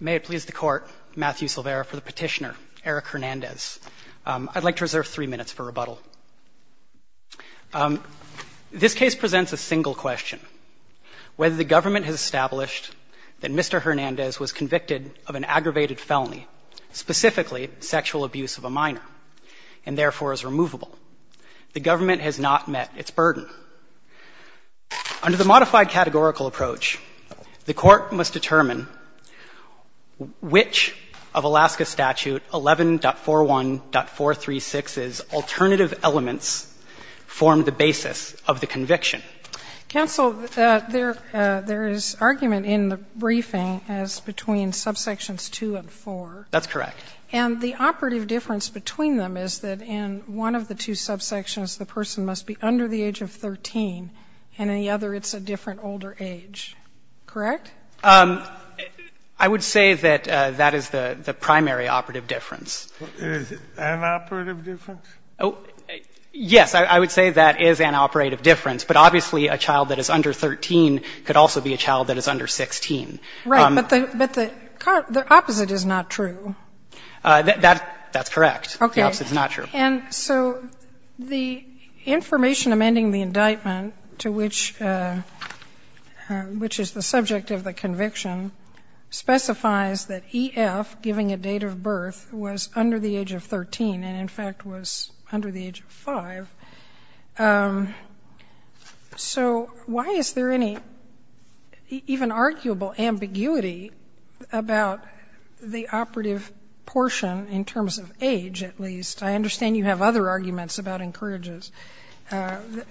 May it please the Court, Matthew Silvera for the petitioner, Eric Hernandez. I'd like to reserve three minutes for rebuttal. This case presents a single question. Whether the government has established that Mr. Hernandez was convicted of an aggravated felony, specifically sexual abuse of a minor, and therefore is removable, the government has not met its burden. Under the modified categorical approach, the Court must determine which of Alaska statute 11.41.436's alternative elements form the basis of the conviction. Counsel, there is argument in the briefing as between subsections 2 and 4. That's correct. And the operative difference between them is that in one of the two subsections, the person must be under the age of 13, and in the other it's a different older age, correct? I would say that that is the primary operative difference. An operative difference? Oh, yes. I would say that is an operative difference. But obviously a child that is under 13 could also be a child that is under 16. Right. But the opposite is not true. That's correct. Okay. The opposite is not true. And so the information amending the indictment to which is the subject of the conviction specifies that E.F. giving a date of birth was under the age of 13 and, in fact, was under the age of 5. So why is there any even arguable ambiguity about the operative portion in terms of age, at least? I understand you have other arguments about encourages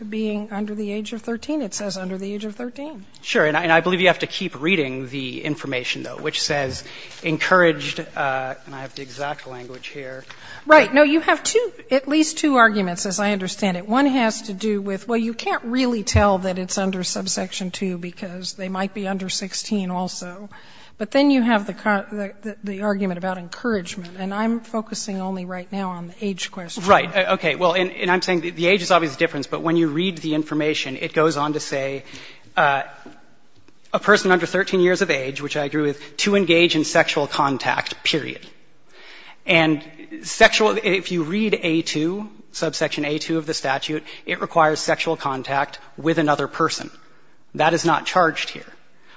being under the age of 13. It says under the age of 13. Sure. And I believe you have to keep reading the information, though, which says encouraged and I have the exact language here. Right. No, you have two, at least two arguments, as I understand it. One has to do with, well, you can't really tell that it's under subsection 2 because they might be under 16 also. But then you have the argument about encouragement. And I'm focusing only right now on the age question. Right. Okay. Well, and I'm saying the age is obviously a difference, but when you read the information, it goes on to say a person under 13 years of age, which I agree with, to engage in sexual contact, period. And sexual ‑‑ if you read A2, subsection A2 of the statute, it requires sexual contact with another person. That is not charged here.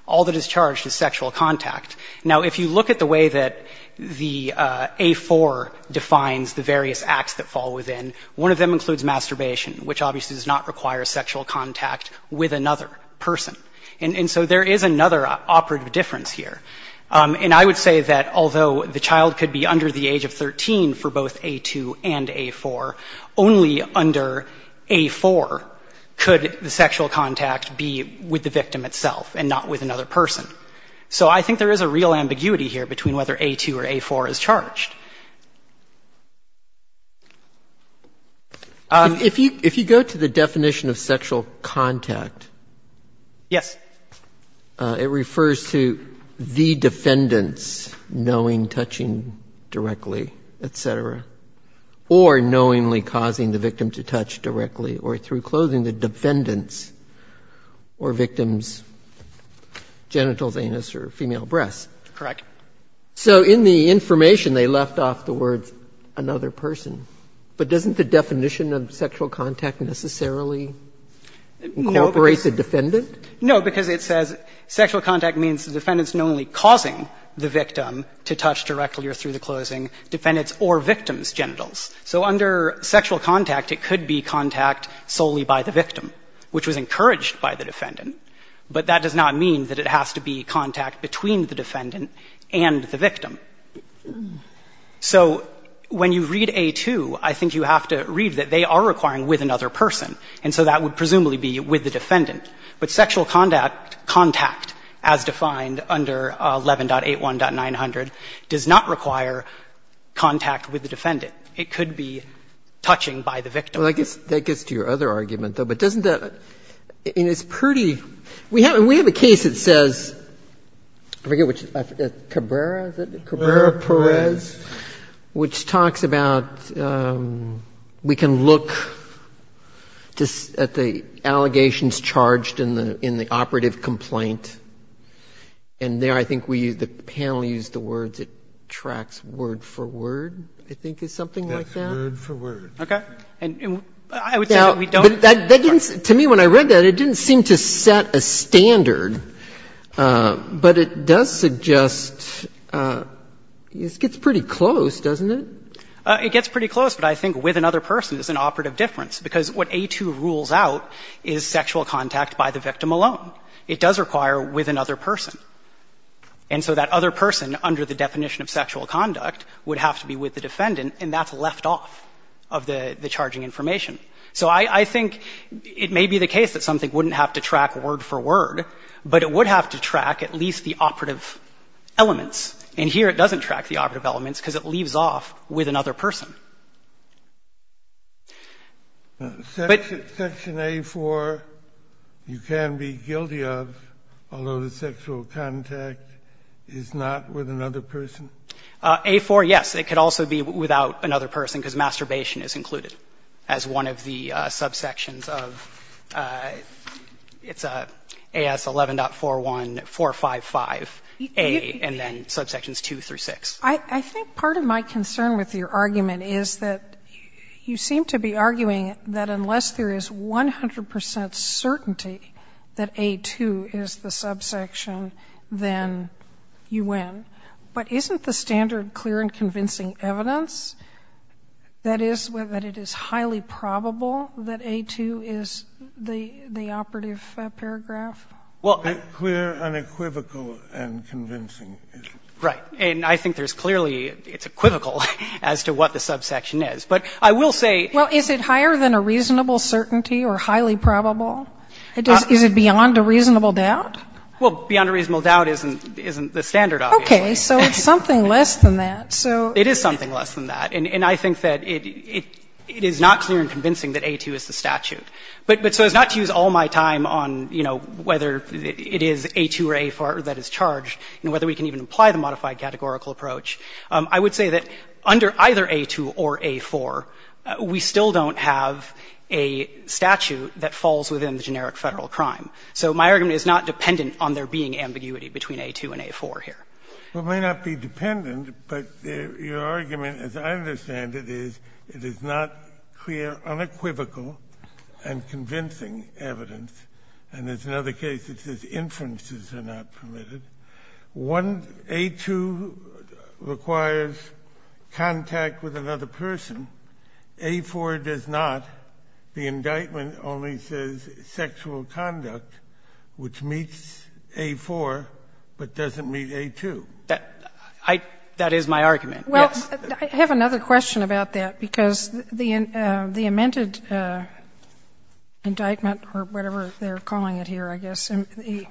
All that is charged is sexual contact. Now, if you look at the way that the A4 defines the various acts that fall within, one of them includes masturbation, which obviously does not require sexual contact with another person. And so there is another operative difference here. And I would say that although the child could be under the age of 13 for both A2 and A4, only under A4 could the sexual contact be with the victim itself and not with another person. So I think there is a real ambiguity here between whether A2 or A4 is charged. If you go to the definition of sexual contact. Yes. It refers to the defendants knowing, touching directly, et cetera, or knowingly causing the victim to touch directly or through clothing the defendants or victims genitals, anus, or female breasts. Correct. So in the information they left off the words another person. But doesn't the definition of sexual contact necessarily incorporate the defendant? No, because it says sexual contact means the defendant is knowingly causing the victim to touch directly or through the clothing defendants or victims' genitals. So under sexual contact, it could be contact solely by the victim, which was encouraged by the defendant. But that does not mean that it has to be contact between the defendant and the victim. So when you read A2, I think you have to read that they are requiring with another person. And so that would presumably be with the defendant. But sexual contact, as defined under 11.81.900, does not require contact with the defendant. It could be touching by the victim. Well, I guess that gets to your other argument, though. But doesn't that — and it's pretty — we have a case that says, I forget which — Cabrera, is it? Cabrera-Perez. Cabrera-Perez, which talks about we can look at the allegations charged in the operative complaint. And there I think we — the panel used the words it tracks word for word, I think, is something like that. Word for word. Okay? And I would say that we don't — But that didn't — to me, when I read that, it didn't seem to set a standard. But it does suggest — it gets pretty close, doesn't it? It gets pretty close. But I think with another person is an operative difference, because what A2 rules out is sexual contact by the victim alone. It does require with another person. And so that other person, under the definition of sexual conduct, would have to be with the defendant, and that's left off of the charging information. So I think it may be the case that something wouldn't have to track word for word, but it would have to track at least the operative elements. And here it doesn't track the operative elements because it leaves off with another person. But — Section A4, you can be guilty of, although the sexual contact is not with another person? A4, yes. It could also be without another person, because masturbation is included as one of the subsections of — it's AS 11.4155A, and then subsections 2 through 6. I think part of my concern with your argument is that you seem to be arguing that unless there is 100 percent certainty that A2 is the subsection, then you win. But isn't the standard clear and convincing evidence, that is, that it is highly probable that A2 is the operative paragraph? Clear and equivocal and convincing. Right. And I think there's clearly — it's equivocal as to what the subsection is. But I will say — Well, is it higher than a reasonable certainty or highly probable? Is it beyond a reasonable doubt? Well, beyond a reasonable doubt isn't the standard obvious. Okay. So it's something less than that. So — It is something less than that. And I think that it is not clear and convincing that A2 is the statute. But so as not to use all my time on, you know, whether it is A2 or A4 that is charged and whether we can even apply the modified categorical approach, I would say that under either A2 or A4, we still don't have a statute that falls within the generic Federal crime. So my argument is not dependent on there being ambiguity between A2 and A4 here. It may not be dependent, but your argument, as I understand it, is it is not clear, unequivocal, and convincing evidence. And there's another case that says inferences are not permitted. One — A2 requires contact with another person. A4 does not. The indictment only says sexual conduct, which meets A4 but doesn't meet A2. That is my argument, yes. Well, I have another question about that, because the amended indictment, or whatever they're calling it here, I guess, the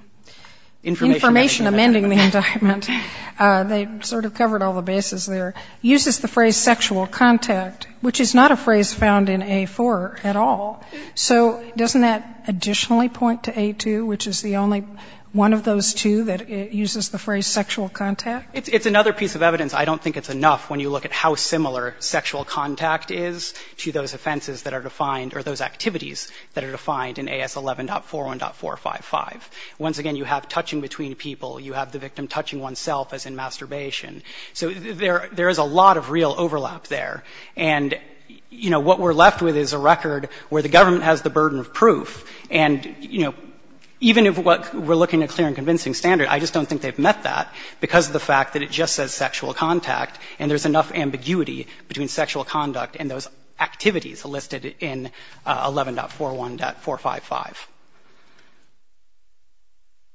information amending the indictment, they sort of covered all the bases there, uses the phrase sexual contact, which is not a phrase found in A4 at all. So doesn't that additionally point to A2, which is the only one of those two that uses the phrase sexual contact? It's another piece of evidence. I don't think it's enough when you look at how similar sexual contact is to those offenses that are defined, or those activities that are defined in AS 11.41.455. Once again, you have touching between people. You have the victim touching oneself as in masturbation. So there is a lot of real overlap there. And, you know, what we're left with is a record where the government has the burden of proof. And, you know, even if we're looking at clear and convincing standard, I just don't think they've met that because of the fact that it just says sexual contact, and there's enough ambiguity between sexual conduct and those activities listed in 11.41.455.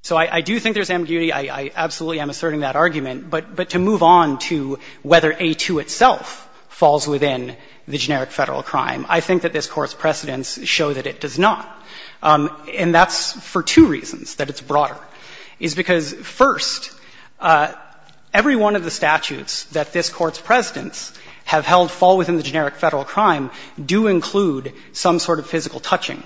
So I do think there's ambiguity. I absolutely am asserting that argument. But to move on to whether A2 itself falls within the generic Federal crime, I think that this Court's precedents show that it does not. And that's for two reasons that it's broader, is because, first, every one of the statutes that this Court's precedents have held fall within the generic Federal crime do include some sort of physical touching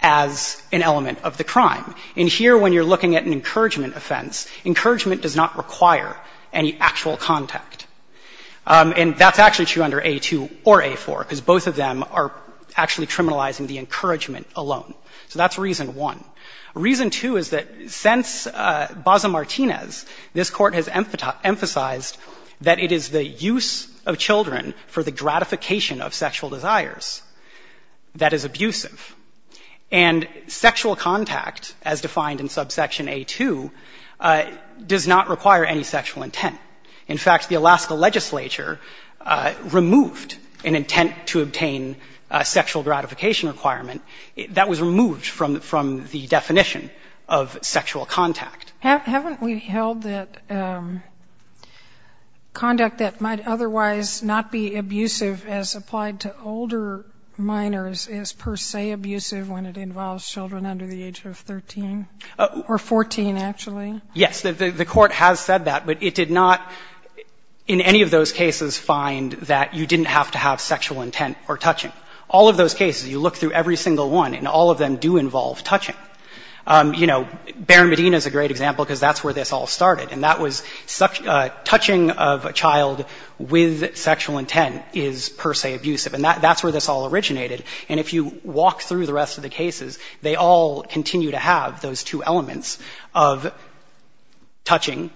as an element of the crime. And here, when you're looking at an encouragement offense, encouragement does not require any actual contact. And that's actually true under A2 or A4, because both of them are actually criminalizing the encouragement alone. So that's reason one. Reason two is that since Baza Martinez, this Court has emphasized that it is the use of children for the gratification of sexual desires that is abusive. And sexual contact, as defined in subsection A2, does not require any sexual intent. In fact, the Alaska legislature removed an intent to obtain a sexual gratification requirement. That was removed from the definition of sexual contact. Haven't we held that conduct that might otherwise not be abusive as applied to older minors is per se abusive when it involves children under the age of 13? Or 14, actually? Yes. The Court has said that. But it did not, in any of those cases, find that you didn't have to have sexual intent or touching. All of those cases, you look through every single one, and all of them do involve touching. You know, Baron Medina is a great example, because that's where this all started. And that was touching of a child with sexual intent is per se abusive. And that's where this all originated. And if you walk through the rest of the cases, they all continue to have those two elements of touching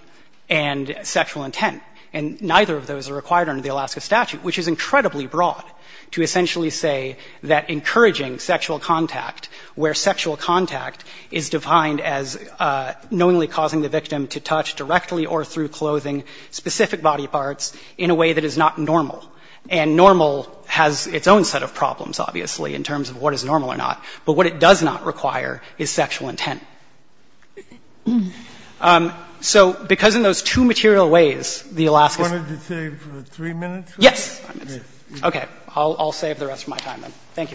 and sexual intent. And neither of those are required under the Alaska statute, which is incredibly broad to essentially say that encouraging sexual contact where sexual contact is defined as knowingly causing the victim to touch directly or through clothing specific body parts in a way that is not normal. And normal has its own set of problems, obviously, in terms of what is normal or not. But what it does not require is sexual intent. So because in those two material ways, the Alaska Statute... I wanted to save three minutes. Yes. Okay. I'll save the rest of my time, then. Thank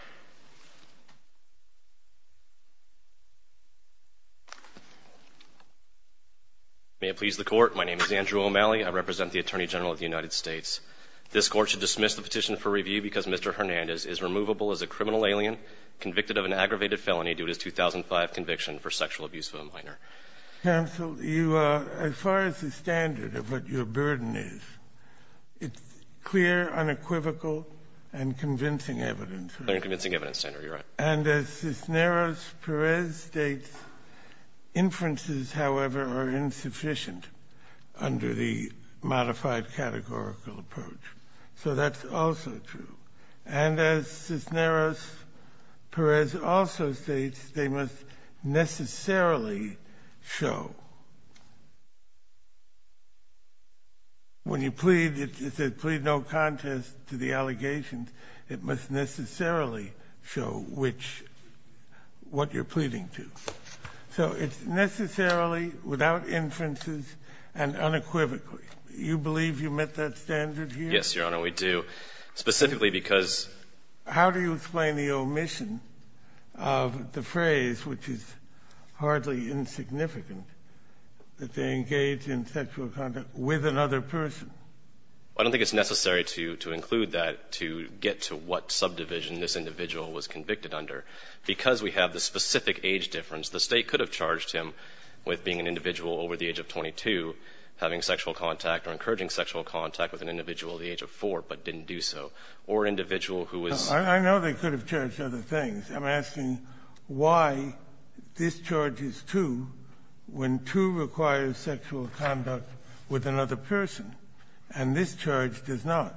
you. May it please the Court. My name is Andrew O'Malley. I represent the Attorney General of the United States. This Court should dismiss the petition for review because Mr. Hernandez is removable as a criminal alien convicted of an aggravated felony due to his 2005 conviction for sexual abuse of a minor. Counsel, as far as the standard of what your burden is, it's clear, unequivocal, and convincing evidence. Clear and convincing evidence, Senator. You're right. And as Cisneros-Perez states, inferences, however, are insufficient under the modified categorical approach. So that's also true. And as Cisneros-Perez also states, they must necessarily show. When you plead, it says, plead no contest to the allegations. It must necessarily show what you're pleading to. So it's necessarily, without inferences, and unequivocally. Do you believe you met that standard here? Yes, Your Honor, we do. Specifically because — How do you explain the omission of the phrase, which is hardly insignificant, that they engage in sexual contact with another person? I don't think it's necessary to include that to get to what subdivision this individual was convicted under. Because we have the specific age difference, the State could have charged him with being an individual over the age of 22, having sexual contact or encouraging sexual contact with an individual at the age of 4, but didn't do so, or an individual who was — I know they could have charged other things. I'm asking why this charge is 2 when 2 requires sexual conduct with another person, and this charge does not.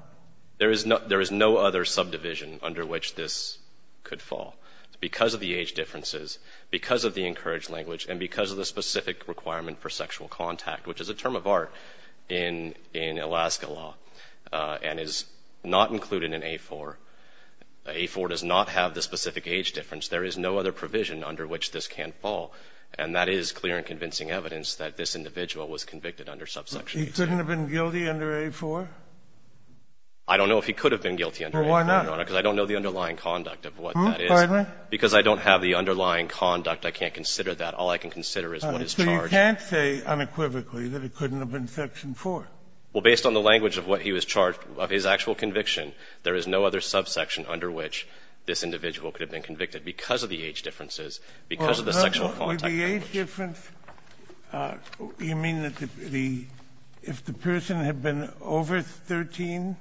There is no other subdivision under which this could fall. It's because of the age differences, because of the encouraged language, and because of the specific requirement for sexual contact, which is a term of art in Alaska law, and is not included in A4. A4 does not have the specific age difference. There is no other provision under which this can fall. And that is clear and convincing evidence that this individual was convicted under subsection 8. He couldn't have been guilty under A4? I don't know if he could have been guilty under A4, Your Honor. Well, why not? Because I don't know the underlying conduct of what that is. Pardon me? Because I don't have the underlying conduct, I can't consider that. All I can consider is what is charged. So you can't say unequivocally that it couldn't have been Section 4? Well, based on the language of what he was charged, of his actual conviction, there is no other subsection under which this individual could have been convicted because of the age differences, because of the sexual contact. With the age difference, you mean that if the person had been over 13,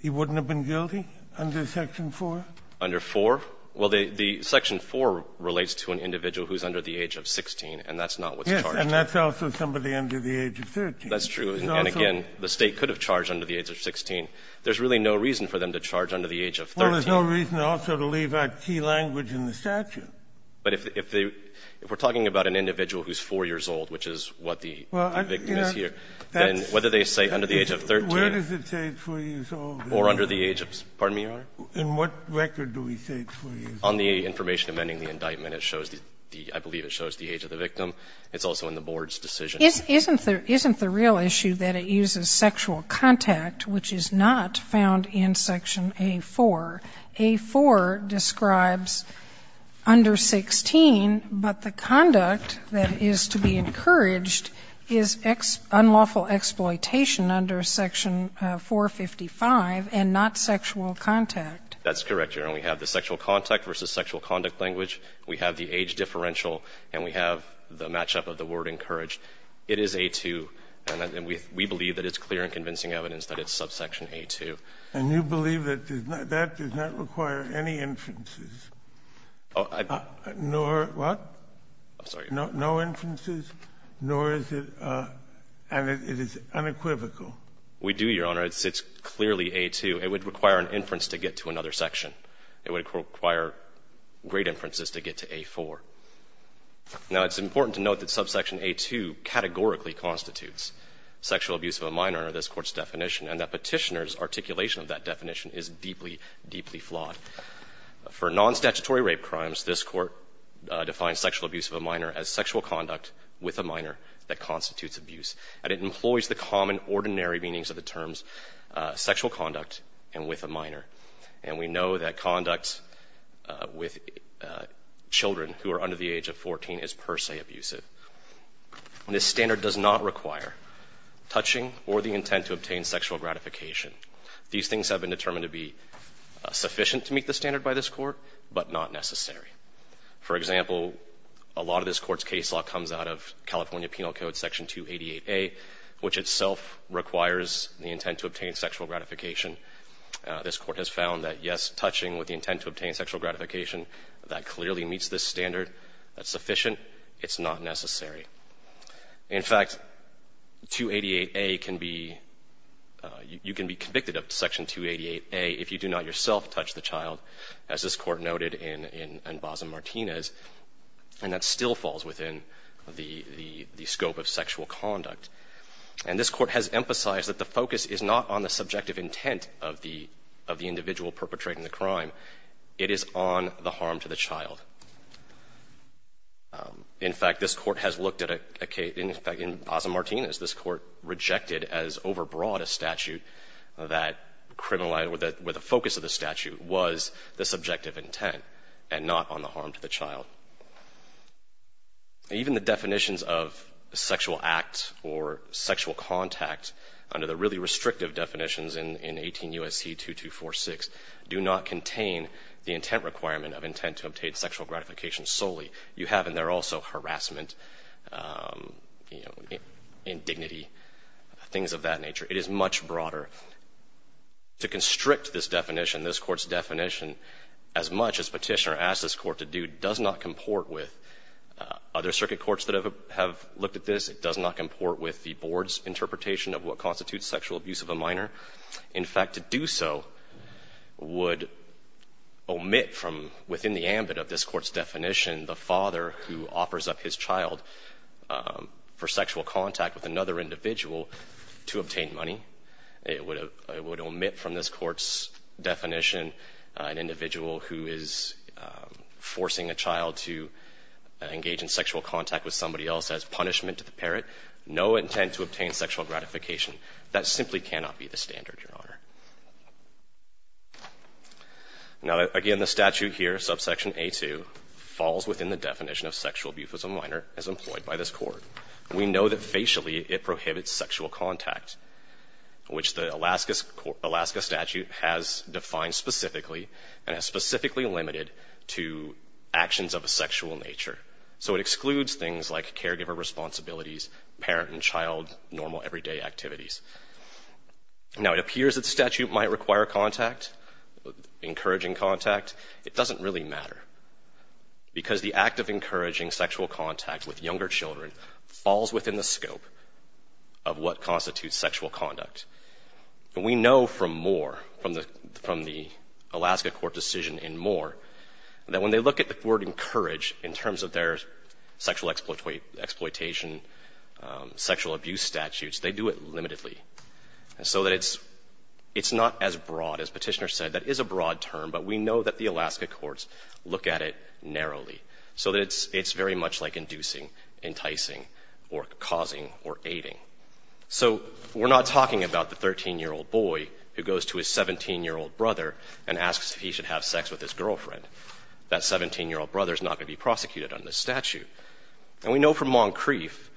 he wouldn't have been guilty under Section 4? Under 4? Well, the Section 4 relates to an individual who is under the age of 16, and that's not what's charged. Yes, and that's also somebody under the age of 13. That's true. And again, the State could have charged under the age of 16. There's really no reason for them to charge under the age of 13. Well, there's no reason also to leave out key language in the statute. But if we're talking about an individual who is 4 years old, which is what the victim is here, then whether they say under the age of 13. Where does it say 4 years old? Or under the age of the statute. Pardon me, Your Honor? In what record do we say 4 years old? On the information amending the indictment. It shows the, I believe it shows the age of the victim. It's also in the board's decision. Isn't the real issue that it uses sexual contact, which is not found in Section A-4? A-4 describes under 16, but the conduct that is to be encouraged is unlawful exploitation under Section 455 and not sexual contact. That's correct, Your Honor. We have the sexual contact versus sexual conduct language. We have the age differential. And we have the matchup of the word encouraged. It is A-2. And we believe that it's clear and convincing evidence that it's subsection A-2. And you believe that that does not require any inferences? Nor what? I'm sorry. No inferences, nor is it unequivocal? We do, Your Honor. It's clearly A-2. It would require an inference to get to another section. It would require great inferences to get to A-4. Now, it's important to note that subsection A-2 categorically constitutes sexual abuse of a minor under this Court's definition, and that Petitioner's articulation of that definition is deeply, deeply flawed. For nonstatutory rape crimes, this Court defines sexual abuse of a minor as sexual conduct with a minor that constitutes abuse. And it employs the common, ordinary meanings of the terms sexual conduct and with a minor. And we know that conduct with children who are under the age of 14 is per se abusive. This standard does not require touching or the intent to obtain sexual gratification. These things have been determined to be sufficient to meet the standard by this Court, but not necessary. For example, a lot of this Court's case law comes out of California Penal Code Section 288A, which itself requires the intent to obtain sexual gratification. This Court has found that, yes, touching with the intent to obtain sexual gratification, that clearly meets this standard. That's sufficient. It's not necessary. In fact, 288A can be, you can be convicted of Section 288A if you do not yourself touch the child, as this Court noted in Basa-Martinez. And that still falls within the scope of sexual conduct. And this Court has emphasized that the focus is not on the subjective intent of the individual perpetrating the crime. It is on the harm to the child. In fact, this Court has looked at a case, in fact, in Basa-Martinez, this Court rejected as overbroad a statute that criminalized, where the focus of the statute was the subjective intent and not on the harm to the child. Even the definitions of sexual act or sexual contact under the really restrictive definitions in 18 U.S.C. 2246 do not contain the intent requirement of intent to obtain sexual gratification solely. You have in there also harassment, indignity, things of that nature. It is much broader. To constrict this definition, this Court's definition, as much as Petitioner asked this Court to do, does not comport with other circuit courts that have looked at this. It does not comport with the Board's interpretation of what constitutes sexual abuse of a minor. In fact, to do so would omit from within the ambit of this Court's definition the father who offers up his child for sexual contact with another individual to obtain money. It would omit from this Court's definition an individual who is forcing a child to engage in sexual contact with somebody else as punishment to the parent. No intent to obtain sexual gratification. That simply cannot be the standard, Your Honor. Now, again, the statute here, subsection A2, falls within the definition of sexual abuse of a minor as employed by this Court. We know that facially it prohibits sexual contact, which the Alaska statute has defined specifically and has specifically limited to actions of a sexual nature. So it excludes things like caregiver responsibilities, parent and child normal everyday activities. Now, it appears that the statute might require contact, encouraging contact. It doesn't really matter because the act of encouraging sexual contact with younger children falls within the scope of what constitutes sexual conduct. And we know from Moore, from the Alaska Court decision in Moore, that when they look at the word encourage in terms of their sexual exploitation, sexual abuse statutes, they do it limitedly, so that it's not as broad. As Petitioner said, that is a broad term, but we know that the Alaska courts look at it narrowly, so that it's very much like inducing, enticing, or causing, or aiding. So we're not talking about the 13-year-old boy who goes to his 17-year-old brother and asks if he should have sex with his girlfriend. That 17-year-old brother is not going to be prosecuted under this statute. And we know from Moncrief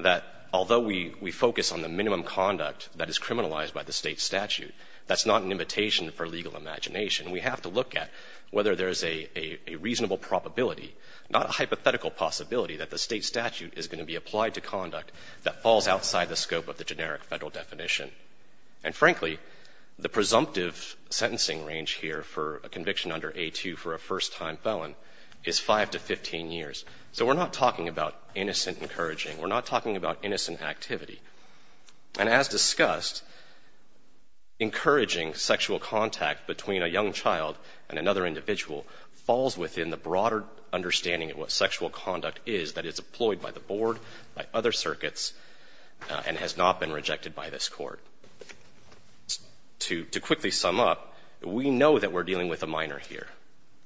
that although we focus on the minimum conduct that is criminalized by the State statute, that's not an invitation for legal imagination. We have to look at whether there's a reasonable probability, not a hypothetical possibility, that the State statute is going to be applied to conduct that falls outside the scope of the generic Federal definition. And frankly, the presumptive sentencing range here for a conviction under A2 for a first-time felon is 5 to 15 years. So we're not talking about innocent encouraging. We're not talking about innocent activity. And as discussed, encouraging sexual contact between a young child and another individual falls within the broader understanding of what sexual conduct is that is employed by the Board, by other circuits, and has not been rejected by this Court. To quickly sum up, we know that we're dealing with a minor here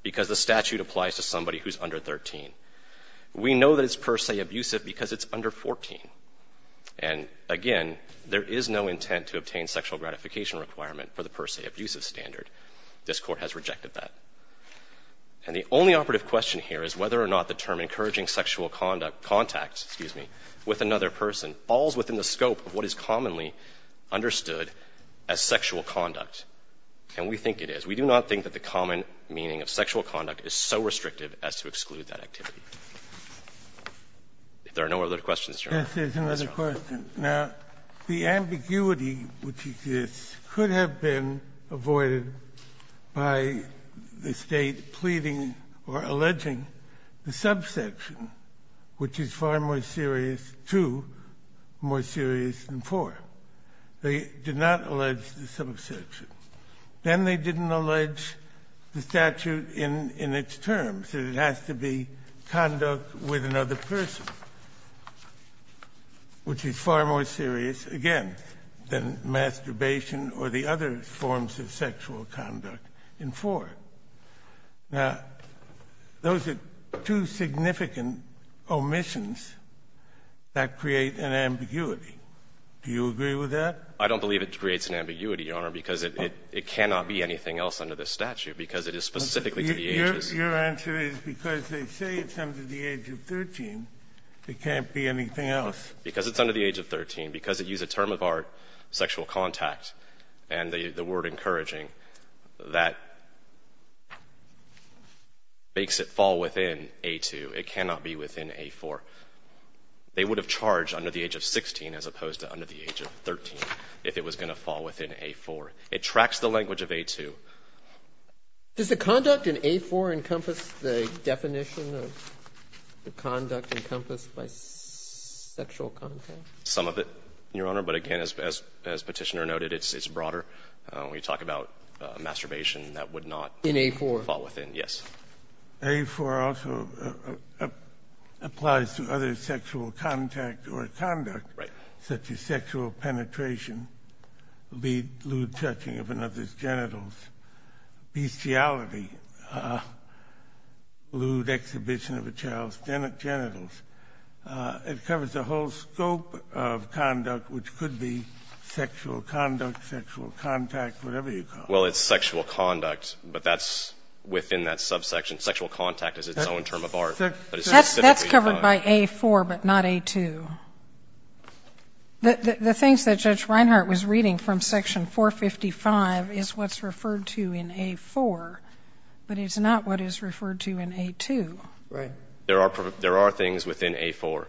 because the statute applies to somebody who's under 13. We know that it's per se abusive because it's under 14. And again, there is no intent to obtain sexual gratification requirement for the per se abusive standard. This Court has rejected that. And the only operative question here is whether or not the term encouraging sexual contact with another person falls within the scope of what is commonly understood as sexual conduct. And we think it is. We do not think that the common meaning of sexual conduct is so restrictive as to exclude that activity. If there are no other questions, Your Honor. This is another question. Now, the ambiguity which exists could have been avoided by the State pleading or alleging the subsection, which is far more serious, 2, more serious than 4. They did not allege the subsection. Then they didn't allege the statute in its terms, that it has to be conduct with another person, which is far more serious, again, than masturbation or the other forms of sexual conduct in 4. Now, those are two significant omissions that create an ambiguity. Do you agree with that? I don't believe it creates an ambiguity, Your Honor, because it cannot be anything else under this statute, because it is specifically to the ages. Your answer is because they say it's under the age of 13, it can't be anything else. Because it's under the age of 13. Because it used a term of our sexual contact and the word encouraging, that makes it fall within A2. It cannot be within A4. They would have charged under the age of 16 as opposed to under the age of 13 if it was going to fall within A4. It tracks the language of A2. Does the conduct in A4 encompass the definition of the conduct encompassed by sexual contact? Some of it, Your Honor. But again, as Petitioner noted, it's broader. When you talk about masturbation, that would not fall within. In A4? Yes. A4 also applies to other sexual contact or conduct. Right. Such as sexual penetration, lewd touching of another's genitals, bestiality, lewd exhibition of a child's genitals. It covers the whole scope of conduct, which could be sexual conduct, sexual contact, whatever you call it. Well, it's sexual conduct, but that's within that subsection. Sexual contact is its own term of art. That's covered by A4, but not A2. The things that Judge Reinhart was reading from Section 455 is what's referred to in A4, but it's not what is referred to in A2. Right. There are things within A4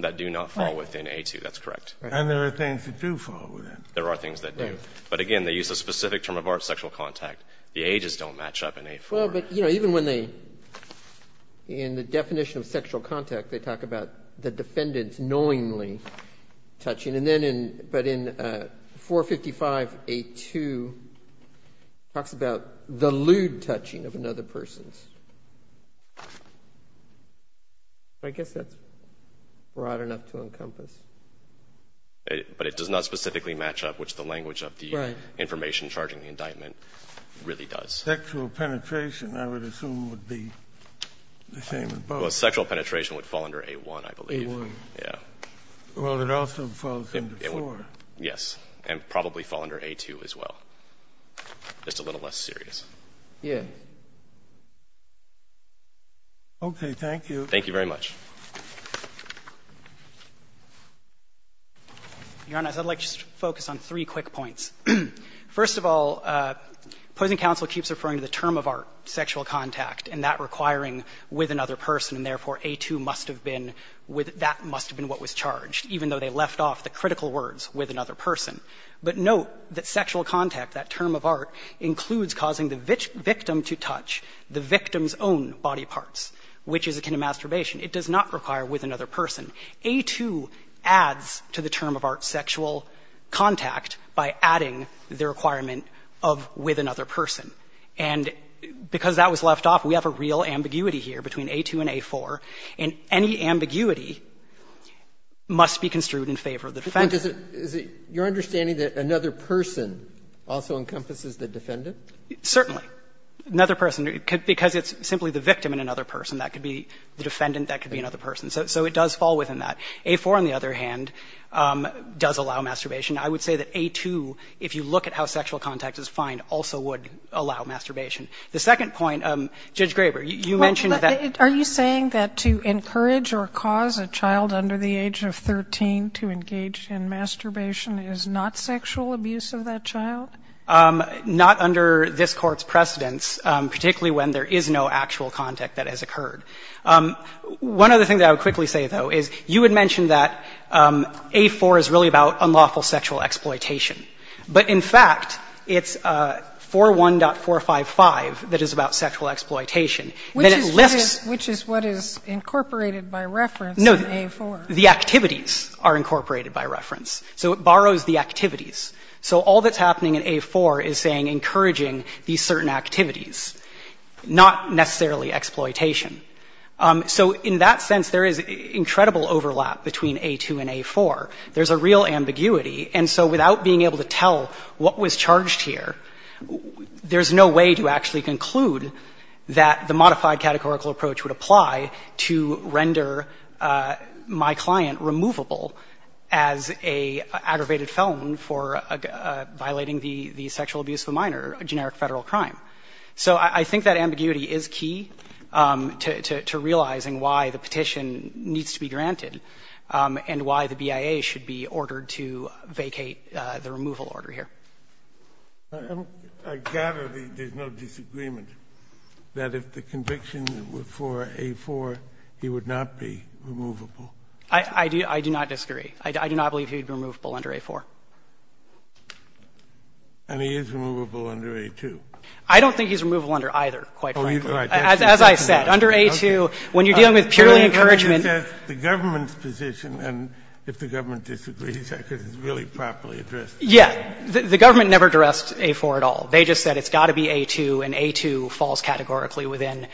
that do not fall within A2. That's correct. And there are things that do fall within. There are things that do. But, again, they use a specific term of art, sexual contact. The ages don't match up in A4. Well, but, you know, even when they – in the definition of sexual contact, they talk about the defendant knowingly touching. And then in – but in 455A2, it talks about the lewd touching of another I guess that's broad enough to encompass. But it does not specifically match up, which the language of the information charging the indictment really does. Sexual penetration, I would assume, would be the same as both. Well, sexual penetration would fall under A1, I believe. A1. Yeah. Well, it also falls under 4. Yes. And probably fall under A2 as well, just a little less serious. Yes. Okay. Thank you. Thank you very much. Your Honor, I'd like to just focus on three quick points. First of all, opposing counsel keeps referring to the term of art, sexual contact, and that requiring with another person. And, therefore, A2 must have been with – that must have been what was charged, even though they left off the critical words with another person. But note that sexual contact, that term of art, includes causing the victim to touch the victim's own body parts, which is akin to masturbation. It does not require with another person. A2 adds to the term of art, sexual contact, by adding the requirement of with another person. And because that was left off, we have a real ambiguity here between A2 and A4. And any ambiguity must be construed in favor of the defendant. But is it – is it your understanding that another person also encompasses the defendant? Certainly. Another person, because it's simply the victim and another person, that could be the defendant, that could be another person. So it does fall within that. A4, on the other hand, does allow masturbation. I would say that A2, if you look at how sexual contact is fined, also would allow masturbation. The second point, Judge Graber, you mentioned that – Are you saying that to encourage or cause a child under the age of 13 to engage in masturbation is not sexual abuse of that child? Not under this Court's precedence, particularly when there is no actual contact that has occurred. One other thing that I would quickly say, though, is you had mentioned that A4 is really about unlawful sexual exploitation. But in fact, it's 41.455 that is about sexual exploitation. And it lists – Which is what is incorporated by reference in A4. No. The activities are incorporated by reference. So it borrows the activities. So all that's happening in A4 is saying encouraging these certain activities, not necessarily exploitation. So in that sense, there is incredible overlap between A2 and A4. There's a real ambiguity. And so without being able to tell what was charged here, there's no way to actually conclude that the modified categorical approach would apply to render my client removable as an aggravated felon for violating the sexual abuse of a minor, a generic Federal crime. So I think that ambiguity is key to realizing why the petition needs to be granted and why the BIA should be ordered to vacate the removal order here. I gather there's no disagreement that if the conviction were for A4, he would not be removable. I do not disagree. I do not believe he would be removable under A4. And he is removable under A2. I don't think he's removable under either, quite frankly. As I said, under A2, when you're dealing with purely encouragement of the government's position, and if the government disagrees, I guess it's really properly addressed. Yeah. The government never addressed A4 at all. They just said it's got to be A2, and A2 falls categorically within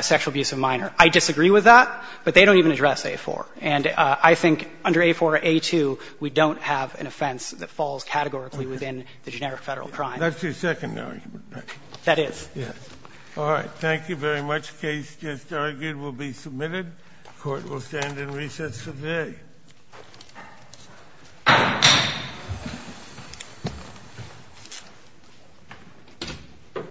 sexual abuse of a minor. I disagree with that, but they don't even address A4. And I think under A4 or A2, we don't have an offense that falls categorically within the generic Federal crime. That's your secondary argument. That is. Yes. All right. Thank you very much. The case just argued will be submitted. The Court will stand in recess for today. Thank you.